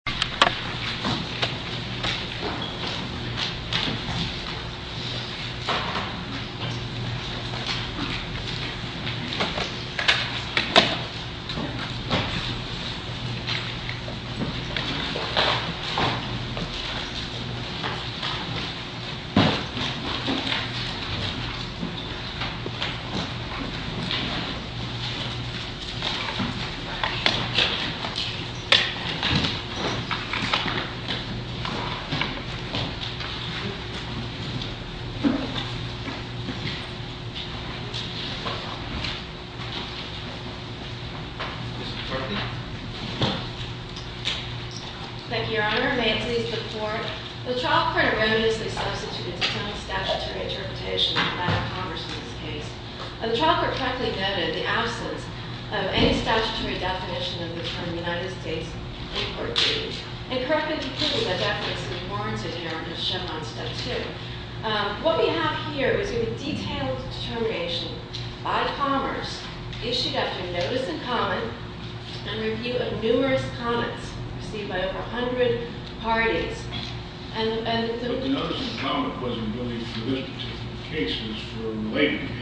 Diferences between U.S. Stateльnd & 52B The trial court erroneously substituted its own statutory interpretation of the fact of Congress in this case. The trial court correctly noted the absence of any statutory definition of the term United States Import Duty, and correctly concluded that that makes any warranted hearing of Chevron Step 2. What we have here is a detailed determination by Commerce issued after notice in common and review of numerous comments received by over 100 parties. But the notice in common wasn't really for this particular case, it was for a related case.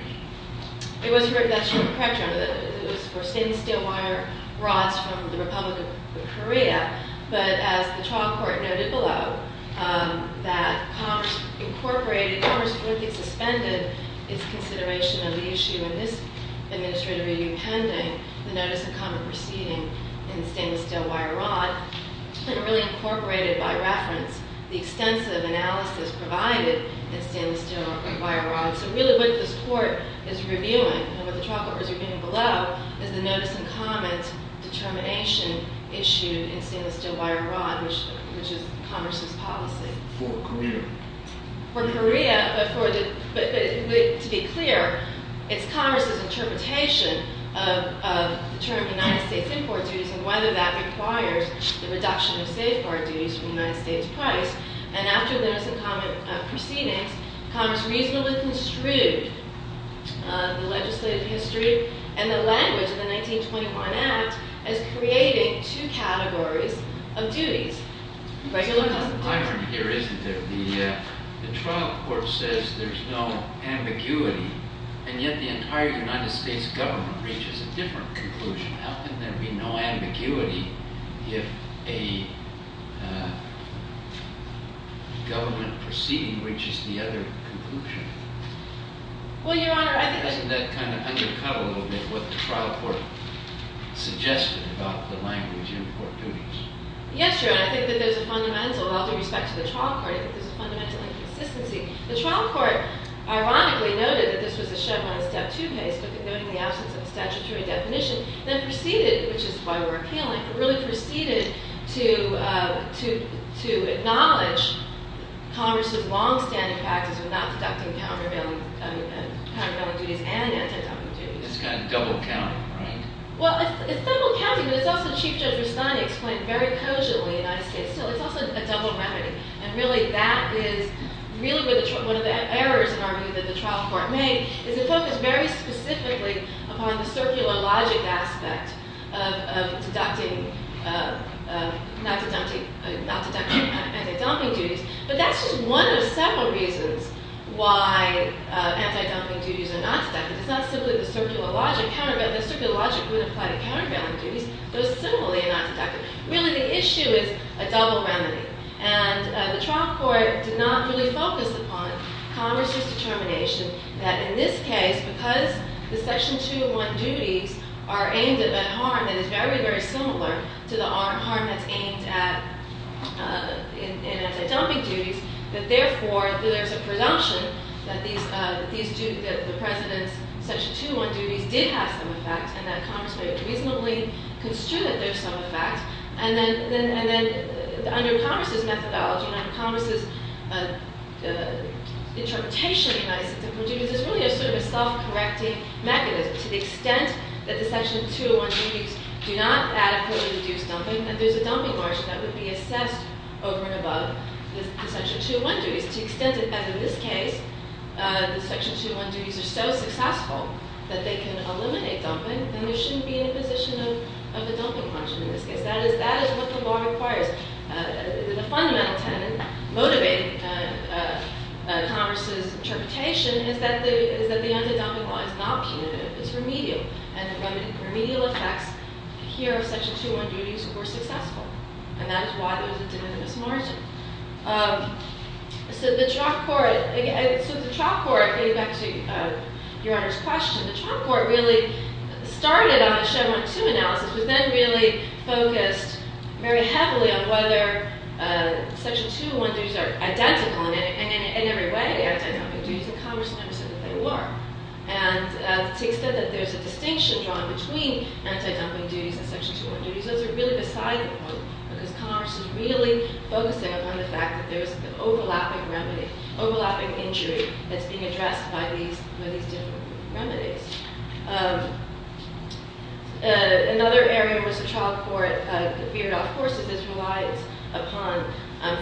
It was for stainless steel wire rods from the Republic of Korea. But as the trial court noted below, Commerce incorrectly suspended its consideration of the issue in this administrative review pending the notice in common proceeding in stainless steel wire rod, and really incorporated by reference the extensive analysis provided in stainless steel wire rods. So really what this court is reviewing, and what the trial court is reviewing below, is the notice in common determination issued in stainless steel wire rod, which is Commerce's policy. For Korea. For Korea, but to be clear, it's Commerce's interpretation of the term United States Import Duty and whether that requires the reduction of safeguard duties from the United States price. And after the notice in common proceedings, Commerce reasonably construed the legislative history and the language of the 1921 Act as creating two categories of duties. The trial court says there's no ambiguity, and yet the entire United States government reaches a different conclusion. How can there be no ambiguity if a government proceeding reaches the other conclusion? Well, Your Honor, I think that... Doesn't that kind of undercut a little bit what the trial court suggested about the language import duties? Yes, Your Honor, I think that there's a fundamental, with all due respect to the trial court, I think there's a fundamental inconsistency. The trial court, ironically, noted that this was a Chevron Step 2 case, noting the absence of a statutory definition, then proceeded, which is why we're appealing, really proceeded to acknowledge Commerce's long-standing practice of not deducting countervailing duties and anti-countervailing duties. It's kind of double counting, right? Well, it's double counting, but it's also, Chief Judge Rustani explained very cogently in the United States, still, it's also a double remedy. And really, that is really one of the errors, in our view, that the trial court made, is it focused very specifically upon the circular logic aspect of deducting, not deducting, not deducting anti-dumping duties. But that's just one of several reasons why anti-dumping duties are not deducted. It's not simply the circular logic. The circular logic wouldn't apply to countervailing duties. Those similarly are not deducted. Really, the issue is a double remedy. And the trial court did not really focus upon Commerce's determination that in this case, because the Section 201 duties are aimed at a harm that is very, very similar to the harm that's aimed at in anti-dumping duties, that therefore, there's a presumption that the President's Section 201 duties did have some effect, and that Commerce may have reasonably construed that there's some effect. And then, under Commerce's methodology, under Commerce's interpretation in the United States, anti-dumping duties is really sort of a self-correcting mechanism, to the extent that the Section 201 duties do not adequately reduce dumping, and there's a dumping margin that would be assessed over and above the Section 201 duties. To the extent that, as in this case, the Section 201 duties are so successful that they can eliminate dumping, then there shouldn't be an imposition of the dumping margin in this case. That is what the law requires. The fundamental tenet motivating Commerce's interpretation is that the anti-dumping law is not punitive. It's remedial, and the remedial effects here of Section 201 duties were successful, and that is why there was a diminutivist margin. So, the trial court, getting back to Your Honor's question, the trial court really started on a Chevron 2 analysis, but then really focused very heavily on whether Section 201 duties are identical, and in every way, anti-dumping duties, and Commerce understood that they were. And to the extent that there's a distinction drawn between anti-dumping duties and Section 201 duties, those are really beside the point, because Commerce is really focusing on the fact that there's an overlapping remedy, overlapping injury that's being addressed by these different remedies. Another area in which the trial court veered off course is relied upon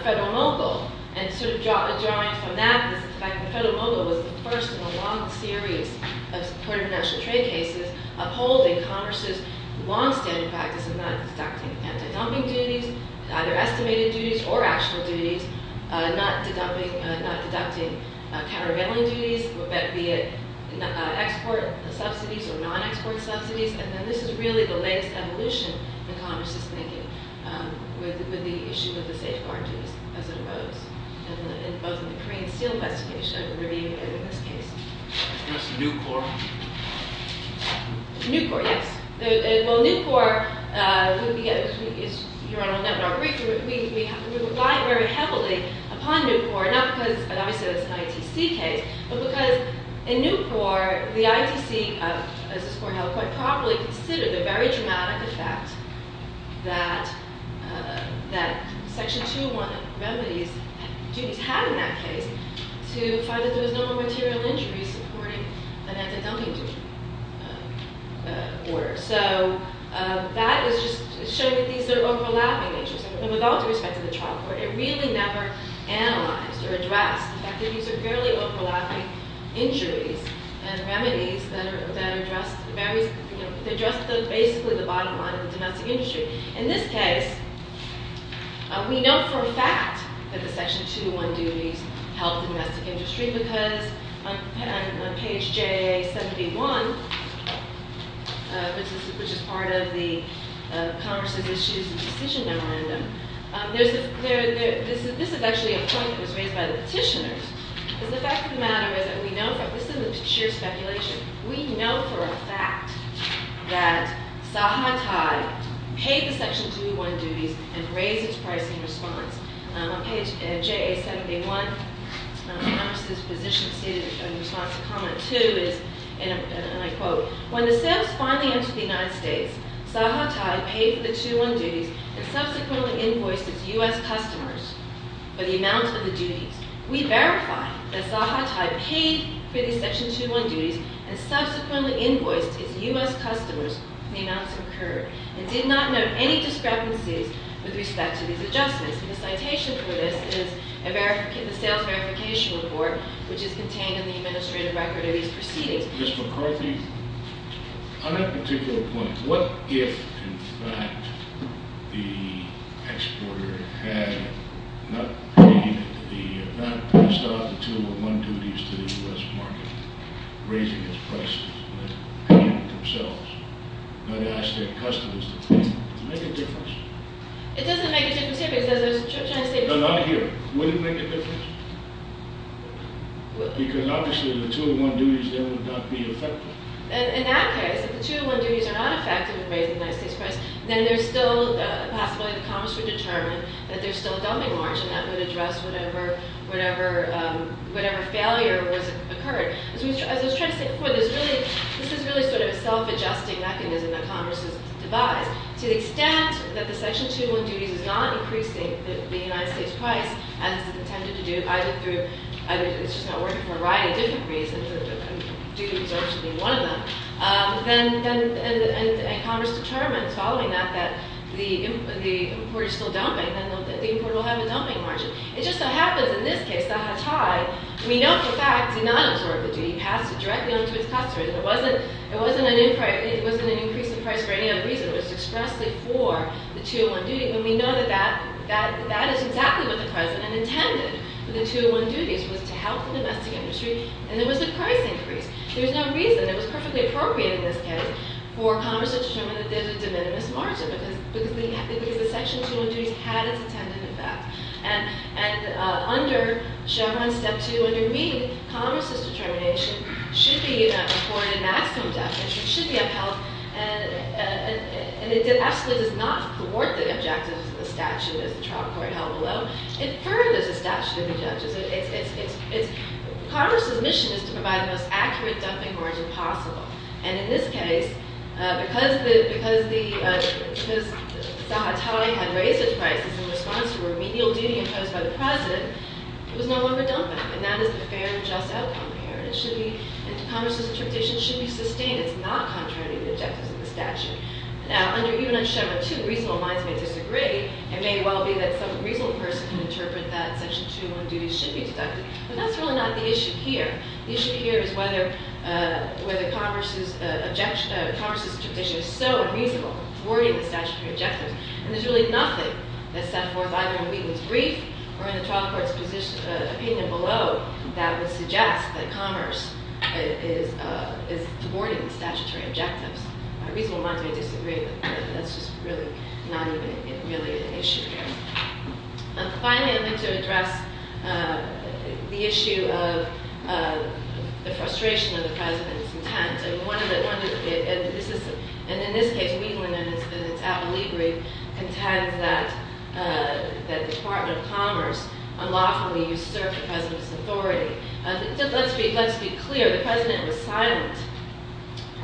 Federal Mogul, and sort of drawing from that is the fact that Federal Mogul was the first in a long series of supported international trade cases upholding Commerce's longstanding practice of not deducting anti-dumping duties, either estimated duties or actual duties, not deducting countervailing duties, be it export subsidies or non-export subsidies, and that this is really the latest evolution that Commerce is making with the issue of the safeguard duties as it arose, and both in the Korean Seal investigation and what we're seeing in this case. Can you address the Nucor? Nucor, yes. Well, Nucor, as Your Honor will know, we rely very heavily upon Nucor, not because, obviously, it's an ITC case, but because in Nucor, the ITC, as this Court held quite properly, considered the very dramatic effect that Section 201 remedies had in that case to find that there was no more material injuries supporting an anti-dumping duty order. So that was just showing that these are overlapping issues, and with all due respect to the trial court, it really never analyzed or addressed the fact that these are fairly overlapping injuries and remedies that address basically the bottom line of the domestic industry. In this case, we know for a fact that the Section 201 duties helped the domestic industry because on page J71, which is part of the Commerce's Issues and Decision Memorandum, this is actually a point that was raised by the petitioners, because the fact of the matter is that we know for a fact, this isn't sheer speculation, we know for a fact that Sahatai paid the Section 201 duties and raised its price in response. On page J71, Commerce's position stated in response to comment two is, and I quote, When the sales finally entered the United States, Sahatai paid for the 201 duties and subsequently invoiced its U.S. customers for the amount of the duties. We verify that Sahatai paid for the Section 201 duties and subsequently invoiced its U.S. customers for the amounts incurred and did not note any discrepancies with respect to these adjustments. The citation for this is in the Sales Verification Report, which is contained in the administrative record of these proceedings. Ms. McCarthy, on that particular point, what if, in fact, the exporter had not paid the amount passed off, the 201 duties to the U.S. market, raising its prices, but paid them themselves, not ask their customers to pay them? Would it make a difference? It doesn't make a difference here, but it says there's a chance they would. No, not here. Would it make a difference? Because obviously the 201 duties there would not be effective. In that case, if the 201 duties are not effective in raising the United States price, then there's still a possibility that Congress would determine that there's still a dumping margin that would address whatever failure occurred. As I was trying to say before, this is really sort of a self-adjusting mechanism that Congress has devised. To the extent that the Section 201 duties is not increasing the United States price, as it's intended to do, either through—it's just not working for a variety of different reasons, and duty absorption being one of them, and Congress determines following that that the importer is still dumping, then the importer will have a dumping margin. It just so happens in this case, that Hatai, we know for a fact, did not absorb the duty. He passed it directly on to his customers. It wasn't an increase in price for any other reason. It was expressly for the 201 duty, and we know that that is exactly what the President intended for the 201 duties, was to help the domestic industry, and there was a price increase. There was no reason. It was perfectly appropriate in this case for Congress to determine that there's a de minimis margin because the Section 201 duties had its intended effect. And under Chevron Step 2, under me, Congress's determination should be for a maximum deficit, should be upheld, and it absolutely does not thwart the objectives of the statute as the trial court held below. It furthers the statute of objectives. It's—Congress's mission is to provide the most accurate dumping margin possible, and in this case, because Hatai had raised its prices in response to a remedial duty imposed by the President, it was no longer dumping, and that is a fair and just outcome here. It should be—Congress's interpretation should be sustained. It's not contradicting the objectives of the statute. Now, even under Chevron 2, reasonable minds may disagree. It may well be that some reasonable person can interpret that Section 201 duties should be deducted, but that's really not the issue here. The issue here is whether Congress's interpretation is so unreasonable, thwarting the statutory objectives, and there's really nothing that's set forth either in Wheaton's brief or in the trial court's opinion below that would suggest that Commerce is thwarting the statutory objectives. Reasonable minds may disagree, but that's just really not even really an issue here. Finally, I'd like to address the issue of the frustration of the President's intent, and one of the—and in this case, Wheaton, in its Apple e-brief, contends that the Department of Commerce unlawfully usurped the President's authority. Let's be clear. The President was silent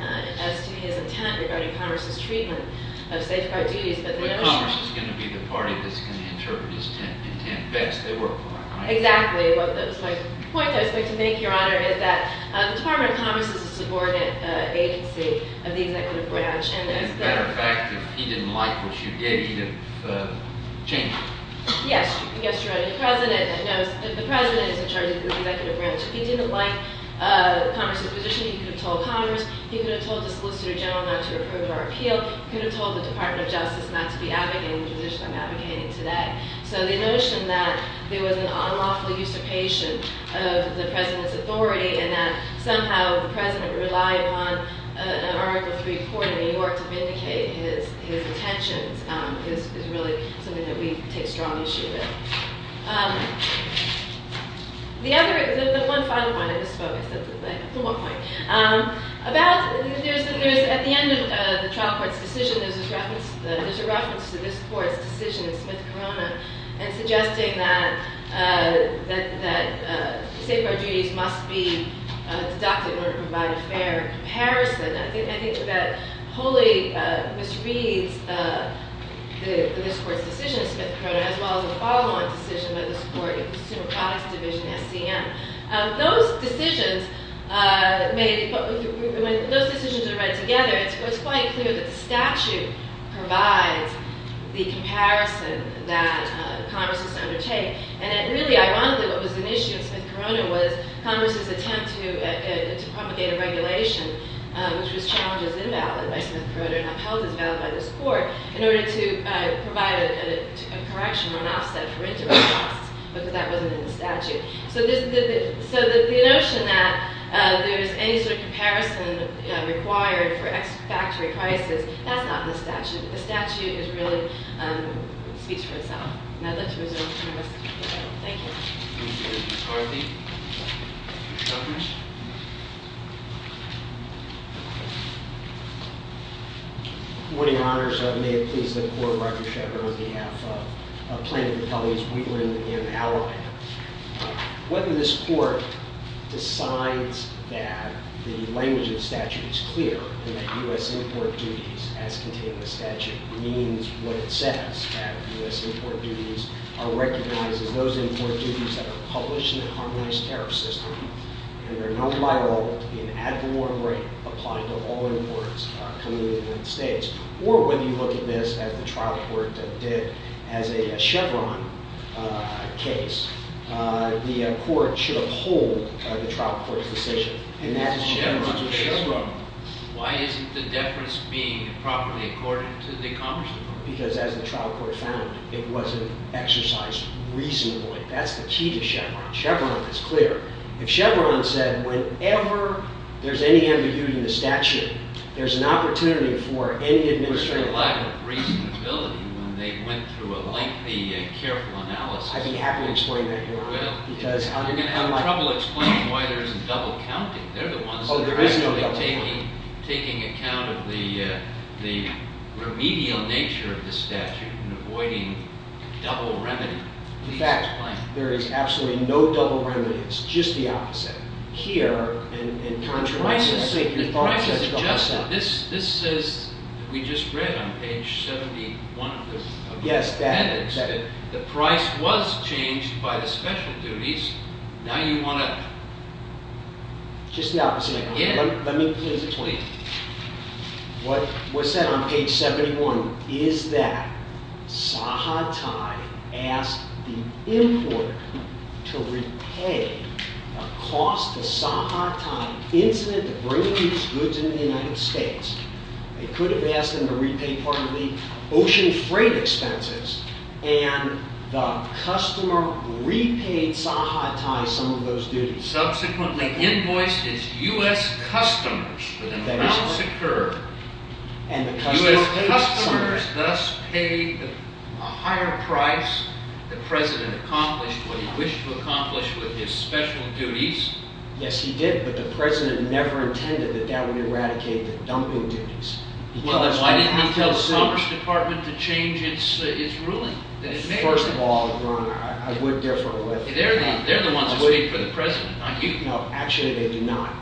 as to his intent regarding Commerce's treatment of safeguard duties, but the notion— But Commerce is going to be the party that's going to interpret his intent best. They work well, right? Exactly. The point that I was going to make, Your Honor, is that the Department of Commerce is a subordinate agency of the executive branch, and as a matter of fact, if he didn't like what you gave, he'd have changed it. Yes, Your Honor. The President is in charge of the executive branch. If he didn't like Commerce's position, he could have told Commerce. He could have told the Solicitor General not to approve our appeal. He could have told the Department of Justice not to be advocating the position I'm advocating today. So the notion that there was an unlawful usurpation of the President's authority and that somehow the President relied on an Article III court in New York to vindicate his intentions is really something that we take strong issue with. The other—the one final point I just spoke— It's the one point. About—there's—at the end of the trial court's decision, there's a reference to this court's decision in Smith-Corona and suggesting that the safeguard duties must be deducted in order to provide a fair comparison. I think that wholly misreads this court's decision in Smith-Corona as well as a follow-on decision by this court in the Consumer Products Division, SCM. Those decisions made—when those decisions are read together, it's quite clear that the statute provides the comparison that Congress is to undertake. And really, ironically, what was an issue in Smith-Corona was Congress's attempt to propagate a regulation which was challenged as invalid by Smith-Corona and upheld as valid by this court in order to provide a correction or an offset for interest costs, but that wasn't in the statute. So the notion that there's any sort of comparison required for ex-factory prices, that's not in the statute. The statute is really—speaks for itself. And I'd like to move to Congress. Thank you. Thank you. Ms. Carthy. Good morning, Your Honors. May it please the Court, Roger Sheppard on behalf of Plaintiff Attorneys Wheatland and Allopan. Whether this court decides that the language of the statute is clear and that U.S. import duties as contained in the statute means what it says, that U.S. import duties are recognized as those import duties that are published in the harmonized tariff system and are known by law to be an ad valorem rate applied to all imports coming into the United States, or whether you look at this as the trial court did as a Chevron case, the court should uphold the trial court's decision. If it's Chevron, why isn't the deference being properly accorded to the Congress department? Because as the trial court found, it wasn't exercised reasonably. That's the key to Chevron. Chevron is clear. If Chevron said whenever there's any ambiguity in the statute, there's an opportunity for any administrative... There was a lack of reasonability when they went through a lengthy and careful analysis. I'd be happy to explain that, Your Honor. I'm going to have trouble explaining why there isn't double counting. They're the ones that are actually taking account of the remedial nature of the statute and avoiding double remedy. In fact, there is absolutely no double remedy. It's just the opposite. The price is adjusted. This says, we just read on page 71 of the appendix, that the price was changed by the special duties. Now you want to... It's just the opposite, Your Honor. Let me please explain. What's said on page 71 is that Sahatai asked the importer to repay a cost to Sahatai incident to bring these goods into the United States. They could have asked them to repay part of the ocean freight expenses, and the customer repaid Sahatai some of those duties. Subsequently, invoiced is U.S. customers. The amount secured. U.S. customers thus paid a higher price. The President accomplished what he wished to accomplish with his special duties. Yes, he did, but the President never intended that that would eradicate the dumping duties. Why didn't he tell the Commerce Department to change its ruling? First of all, Your Honor, I would differ with... They're the ones who speak for the President, not you. No, actually they do not.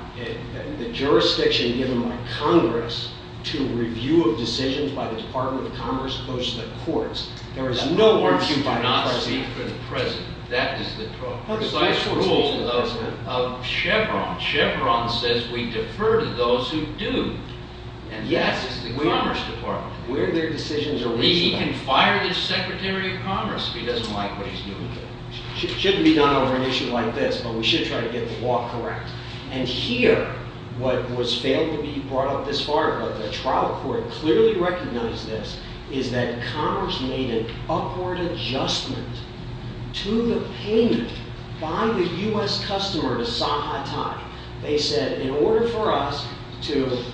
The jurisdiction given by Congress to review of decisions by the Department of Commerce goes to the courts. There is no... The courts do not speak for the President. That is the problem. That's the rule of Chevron. Chevron says we defer to those who do. And that's the Commerce Department. Where their decisions are reached... He can fire his Secretary of Commerce if he doesn't like what he's doing. It shouldn't be done over an issue like this, but we should try to get the law correct. And here, what was failed to be brought up this far, but the trial court clearly recognized this, is that Commerce made an upward adjustment to the payment by the U.S. customer to Sahatai. They said, in order for us to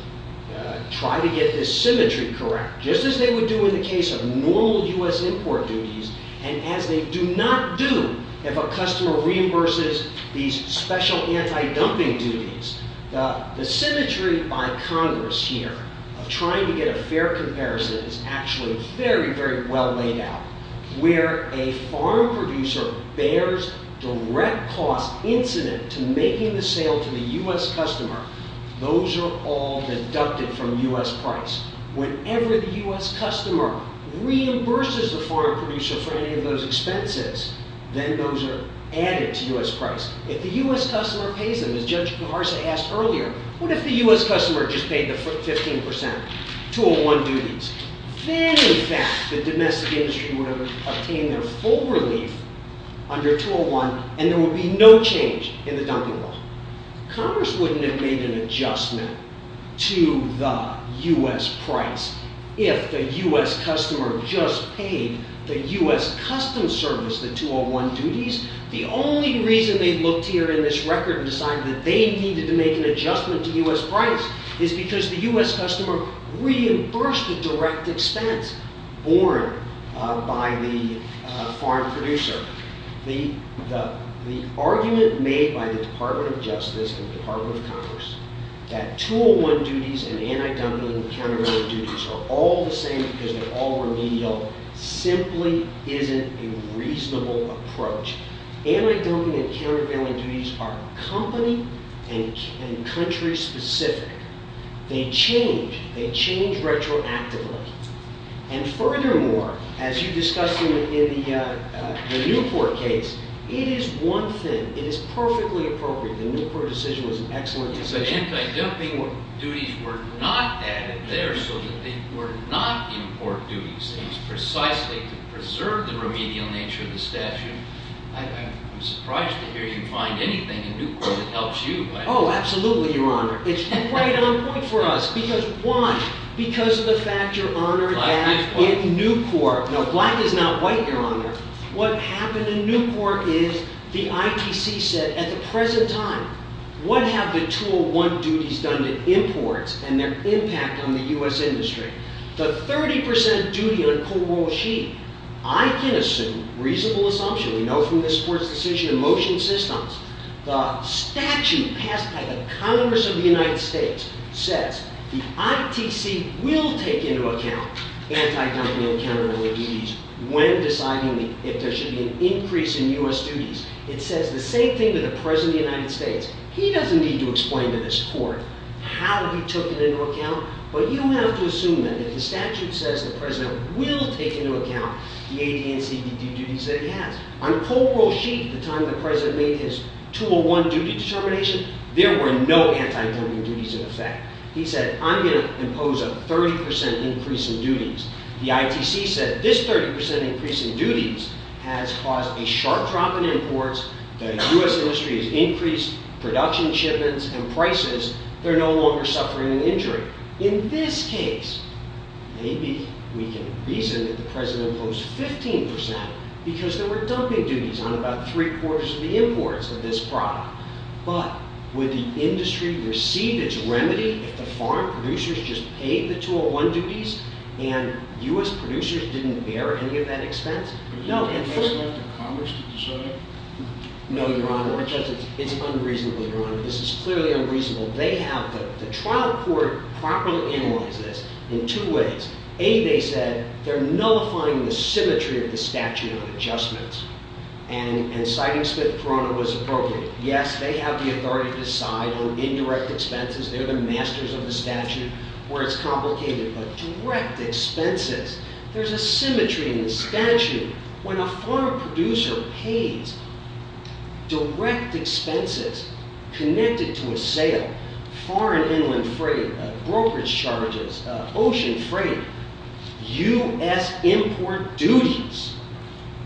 try to get this symmetry correct, just as they would do in the case of normal U.S. import duties, and as they do not do if a customer reimburses these special anti-dumping duties, the symmetry by Congress here of trying to get a fair comparison is actually very, very well laid out. Where a farm producer bears direct cost incident to making the sale to the U.S. customer, those are all deducted from U.S. price. Whenever the U.S. customer reimburses the farm producer for any of those expenses, then those are added to U.S. price. If the U.S. customer pays them, as Judge Paharsa asked earlier, what if the U.S. customer just paid the 15% 201 duties? Then, in fact, the domestic industry would have obtained their full relief under 201, and there would be no change in the dumping bill. Congress wouldn't have made an adjustment to the U.S. price if the U.S. customer just paid the U.S. custom service the 201 duties. The only reason they looked here in this record and decided that they needed to make an adjustment to U.S. price is because the U.S. customer reimbursed the direct expense borne by the farm producer. The argument made by the Department of Justice and the Department of Congress that 201 duties and anti-dumping and countervailing duties are all the same because they're all remedial simply isn't a reasonable approach. Anti-dumping and countervailing duties are company and country specific. They change. They change retroactively. And furthermore, as you discussed in the Newport case, it is one thing. It is perfectly appropriate. The Newport decision was an excellent decision. But anti-dumping duties were not added there so that they were not import duties. It was precisely to preserve the remedial nature of the statute. I'm surprised to hear you find anything in Newport that helps you. Oh, absolutely, Your Honor. It's right on point for us. Why? Because of the fact, Your Honor, that in Newport Now, black is not white, Your Honor. What happened in Newport is the ITC said, at the present time, what have the 201 duties done to imports and their impact on the U.S. industry? The 30% duty on cornwall sheet, I can assume, reasonable assumption, we know from the sports decision and motion systems, the statute passed by the Congress of the United States says the ITC will take into account anti-dumping and counter-dumping duties when deciding if there should be an increase in U.S. duties. It says the same thing to the President of the United States. He doesn't need to explain to this court how he took it into account, but you don't have to assume that. If the statute says the President will take into account the AD&CD duties that he has, on the cornwall sheet at the time the President made his 201 duty determination, there were no anti-dumping duties in effect. He said, I'm going to impose a 30% increase in duties. The ITC said this 30% increase in duties has caused a sharp drop in imports, the U.S. industry has increased production shipments and prices, they're no longer suffering an injury. In this case, maybe we can reason that the President imposed 15% because there were dumping duties on about three-quarters of the imports of this product. But would the industry receive its remedy if the farm producers just paid the 201 duties and U.S. producers didn't bear any of that expense? No. No, Your Honor. It's unreasonable, Your Honor. This is clearly unreasonable. They have the trial court properly analyze this in two ways. A, they said, they're nullifying the symmetry of the statute on adjustments. And citing Smith-Corona was appropriate. Yes, they have the authority to decide on indirect expenses. They're the masters of the statute where it's complicated. But direct expenses, there's a symmetry in the statute. foreign inland freight, brokerage charges, ocean freight, U.S. import duties,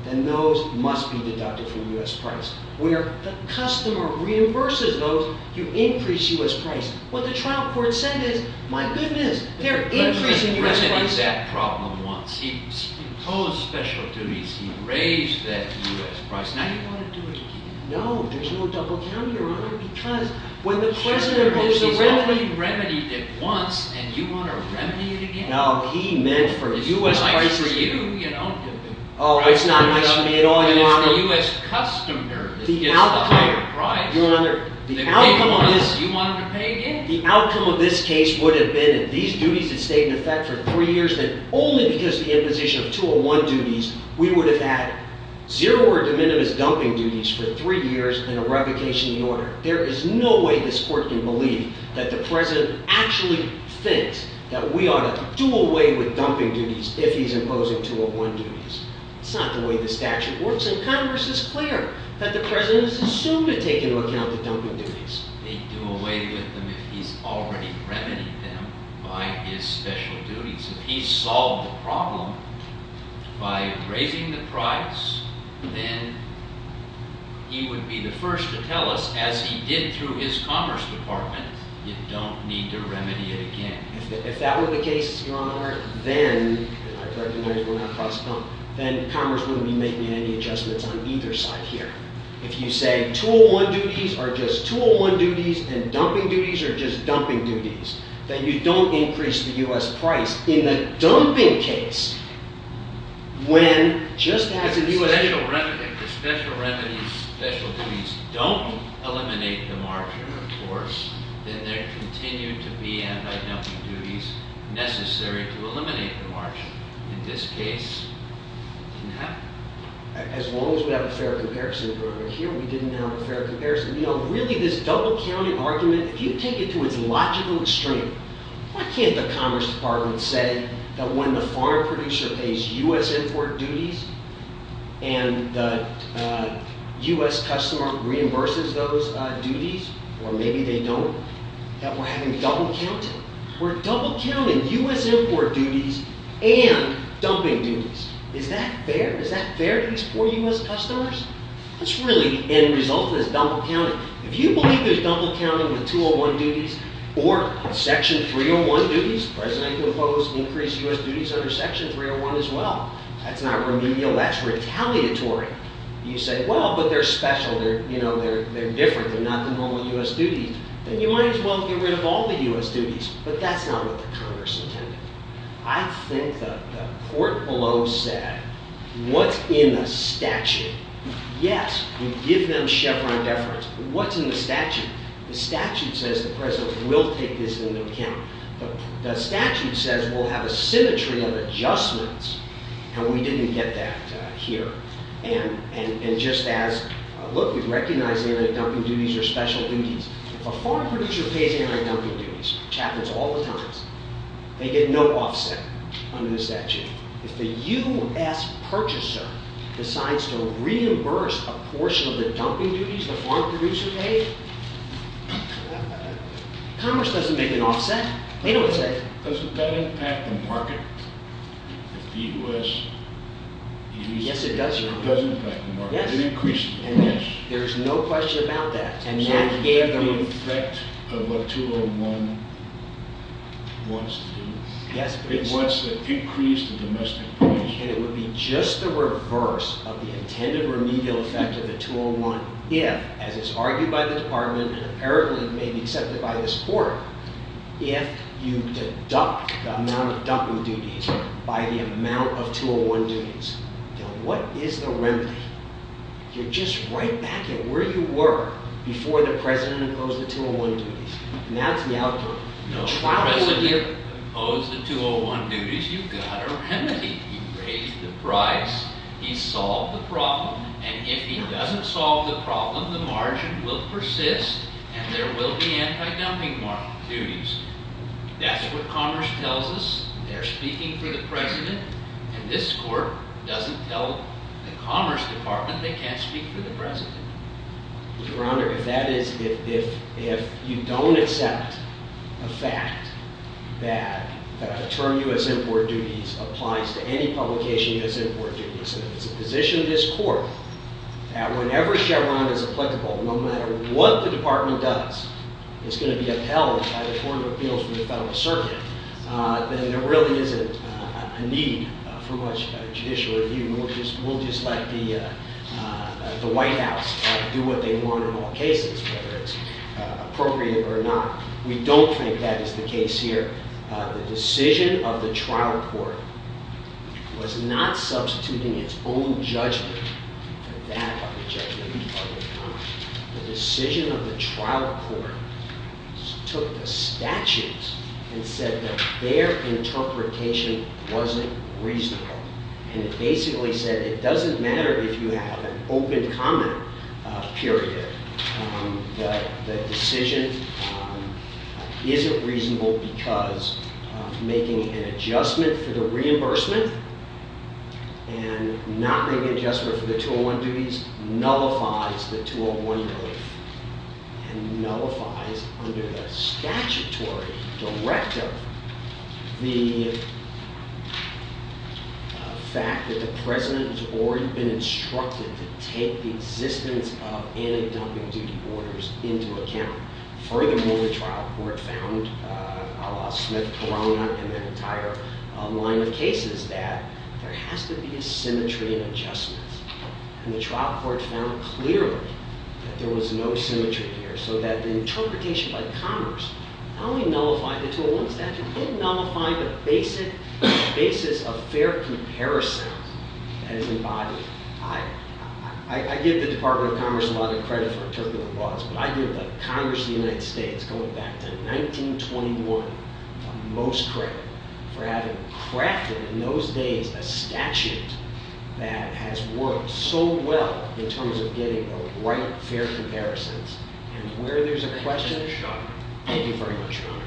then those must be deducted from U.S. price. Where the customer reimburses those, you increase U.S. price. What the trial court said is, my goodness, they're increasing U.S. price. But the President resonated that problem once. He imposed special duties. He raised that U.S. price. Now you want to do it again. No, there's no double down, Your Honor, because when the President imposed the remedy. He's only remedied it once, and you want to remedy it again. No, he meant for the U.S. price. The U.S. price for you, you don't give him. Oh, it's not nice for me at all, Your Honor. But it's the U.S. customer that gets the higher price. Your Honor, the outcome of this. You want him to pay again. The outcome of this case would have been if these duties had stayed in effect for three years, then only because of the imposition of 201 duties, we would have had zero or de minimis dumping duties for three years and a revocation of the order. There is no way this Court can believe that the President actually thinks that we ought to do away with dumping duties if he's imposing 201 duties. It's not the way the statute works, and Congress is clear that the President is assumed to take into account the dumping duties. They do away with them if he's already remedied them by his special duties. If he solved the problem by raising the price, then he would be the first to tell us, as he did through his Commerce Department, you don't need to remedy it again. If that were the case, Your Honor, then, and I recognize we're not cross-talking, then Commerce wouldn't be making any adjustments on either side here. If you say 201 duties are just 201 duties and dumping duties are just dumping duties, then you don't increase the U.S. price. In the dumping case, when just as the special remedies, special duties don't eliminate the margin, of course, then there continue to be anti-dumping duties necessary to eliminate the margin. In this case, it didn't happen. As long as we have a fair comparison, Your Honor, here we didn't have a fair comparison. Really, this double-counting argument, if you take it to its logical extreme, why can't the Commerce Department say that when the farm producer pays U.S. import duties and the U.S. customer reimburses those duties, or maybe they don't, that we're having double-counting? We're double-counting U.S. import duties and dumping duties. Is that fair? Is that fair to these poor U.S. customers? That's really the end result of this double-counting. If you believe there's double-counting in the 201 duties or Section 301 duties, the President can impose increased U.S. duties under Section 301 as well. That's not remedial. That's retaliatory. You say, well, but they're special. They're different. They're not the normal U.S. duties. Then you might as well get rid of all the U.S. duties. But that's not what the Congress intended. I think the court below said, what's in the statute? Yes, we give them Chevron deference. What's in the statute? The statute says the President will take this into account. The statute says we'll have a symmetry of adjustments. And we didn't get that here. And just as, look, we recognize the anti-dumping duties are special duties. A farm producer pays anti-dumping duties, which happens all the time. They get no offset under the statute. If the U.S. purchaser decides to reimburse a portion of the dumping duties the farm producer paid, Congress doesn't make an offset. They don't say. Does that impact the market? If the U.S. Yes, it does, Your Honor. It does impact the market. Yes. It increases the price. There's no question about that. And that gave them. So is that the effect of what 201 wants to do? Yes, it is. It wants to increase the domestic price. And it would be just the reverse of the intended remedial effect of the 201 if, as is argued by the Department and apparently may be accepted by this Court, if you deduct the amount of dumping duties by the amount of 201 duties. Now, what is the remedy? You're just right back at where you were before the President imposed the 201 duties. And that's the outcome. No, the President imposed the 201 duties. You've got a remedy. He raised the price. He solved the problem. And if he doesn't solve the problem, the margin will persist. And there will be anti-dumping duties. That's what Congress tells us. They're speaking for the President. And this Court doesn't tell the Commerce Department they can't speak for the President. Your Honor, if you don't accept the fact that a term U.S. import duties applies to any publication U.S. import duties, and if it's a position of this Court that whenever Chevron is applicable, no matter what the Department does, it's going to be upheld by the Court of Appeals from the Federal Circuit, then there really isn't a need for much judicial review. We'll just let the White House do what they want in all cases, whether it's appropriate or not. We don't think that is the case here. The decision of the trial court was not substituting its own judgment for that of the judgment of the public. The decision of the trial court took the statutes and said that their interpretation wasn't reasonable. And it basically said it doesn't matter if you have an open comment period. The decision isn't reasonable because making an adjustment for the reimbursement and not making an adjustment for the 201 duties nullifies the 201 relief and nullifies under the statutory directive the fact that the President has already been instructed to take the existence of anti-dumping duty orders into account. Furthermore, the trial court found, a la Smith-Corona and the entire line of cases, that there has to be a symmetry in adjustments. And the trial court found clearly that there was no symmetry here so that the interpretation by Congress not only nullified the 201 statute, it nullified the basis of fair comparison that is embodied. I give the Department of Commerce a lot of credit for interpreting the laws, but I give Congress of the United States, going back to 1921, the most credit for having crafted in those days a statute that has worked so well in terms of getting the right fair comparisons. And where there's a question, thank you very much, Your Honor.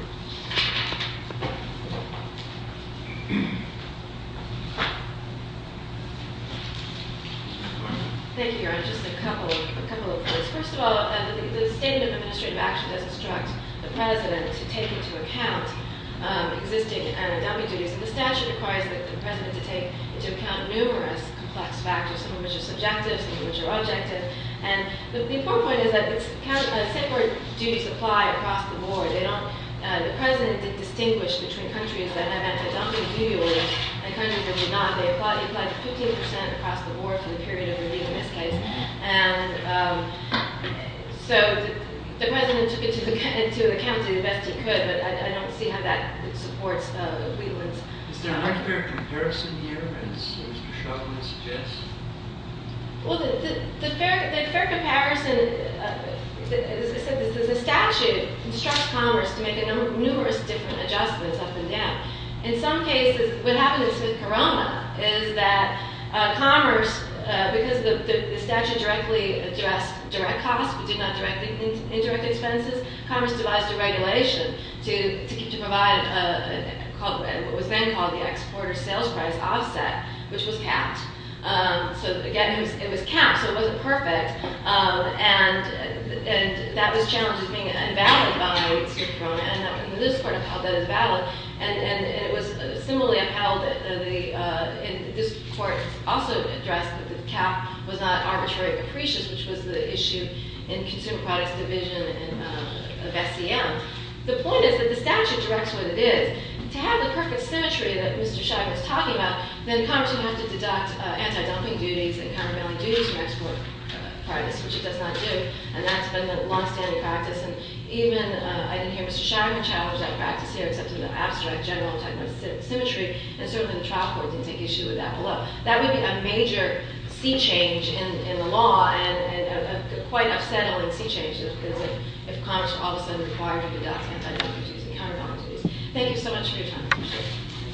Thank you, Your Honor. Just a couple of points. First of all, the Statement of Administrative Action does instruct the President to take into account existing anti-dumping duties. And the statute requires the President to take into account numerous complex factors, some of which are subjective, some of which are objective. And the important point is that separate duties apply across the board. The President did distinguish between countries that have anti-dumping duty orders and countries that do not. They apply to 15% across the board for the period of relieving this case. And so, the President took it into account to the best he could, but I don't see how that supports Wheatland's. Is there an unfair comparison here, as Ms. Gershaw would suggest? Well, the fair comparison, as I said, the statute instructs Congress to make numerous different adjustments up and down. In some cases, what happened in Smith-Coroma is that Commerce, because the statute directly addressed direct costs but did not direct indirect expenses, Commerce devised a regulation to provide what was then called the Exporter Sales Price Offset, which was capped. So, again, it was capped, so it wasn't perfect. And that was challenged as being invalid by Smith-Coroma, and this court held that as valid. And it was similarly upheld, and this court also addressed that the cap was not arbitrary or capricious, which was the issue in Consumer Products Division of SCM. The point is that the statute directs what it is. To have the perfect symmetry that Mr. Scheinman's talking about, then Congress would have to deduct anti-dumping duties and countermeasuring duties from export price, which it does not do, and that's been the long-standing practice. And even, I didn't hear Mr. Scheinman challenge that practice here except in the abstract general type of symmetry, and certainly the trial court didn't take issue with that below. That would be a major sea change in the law, and a quite unsettling sea change, if Congress all of a sudden required to deduct anti-dumping duties and countermeasuring duties. Thank you so much for your time.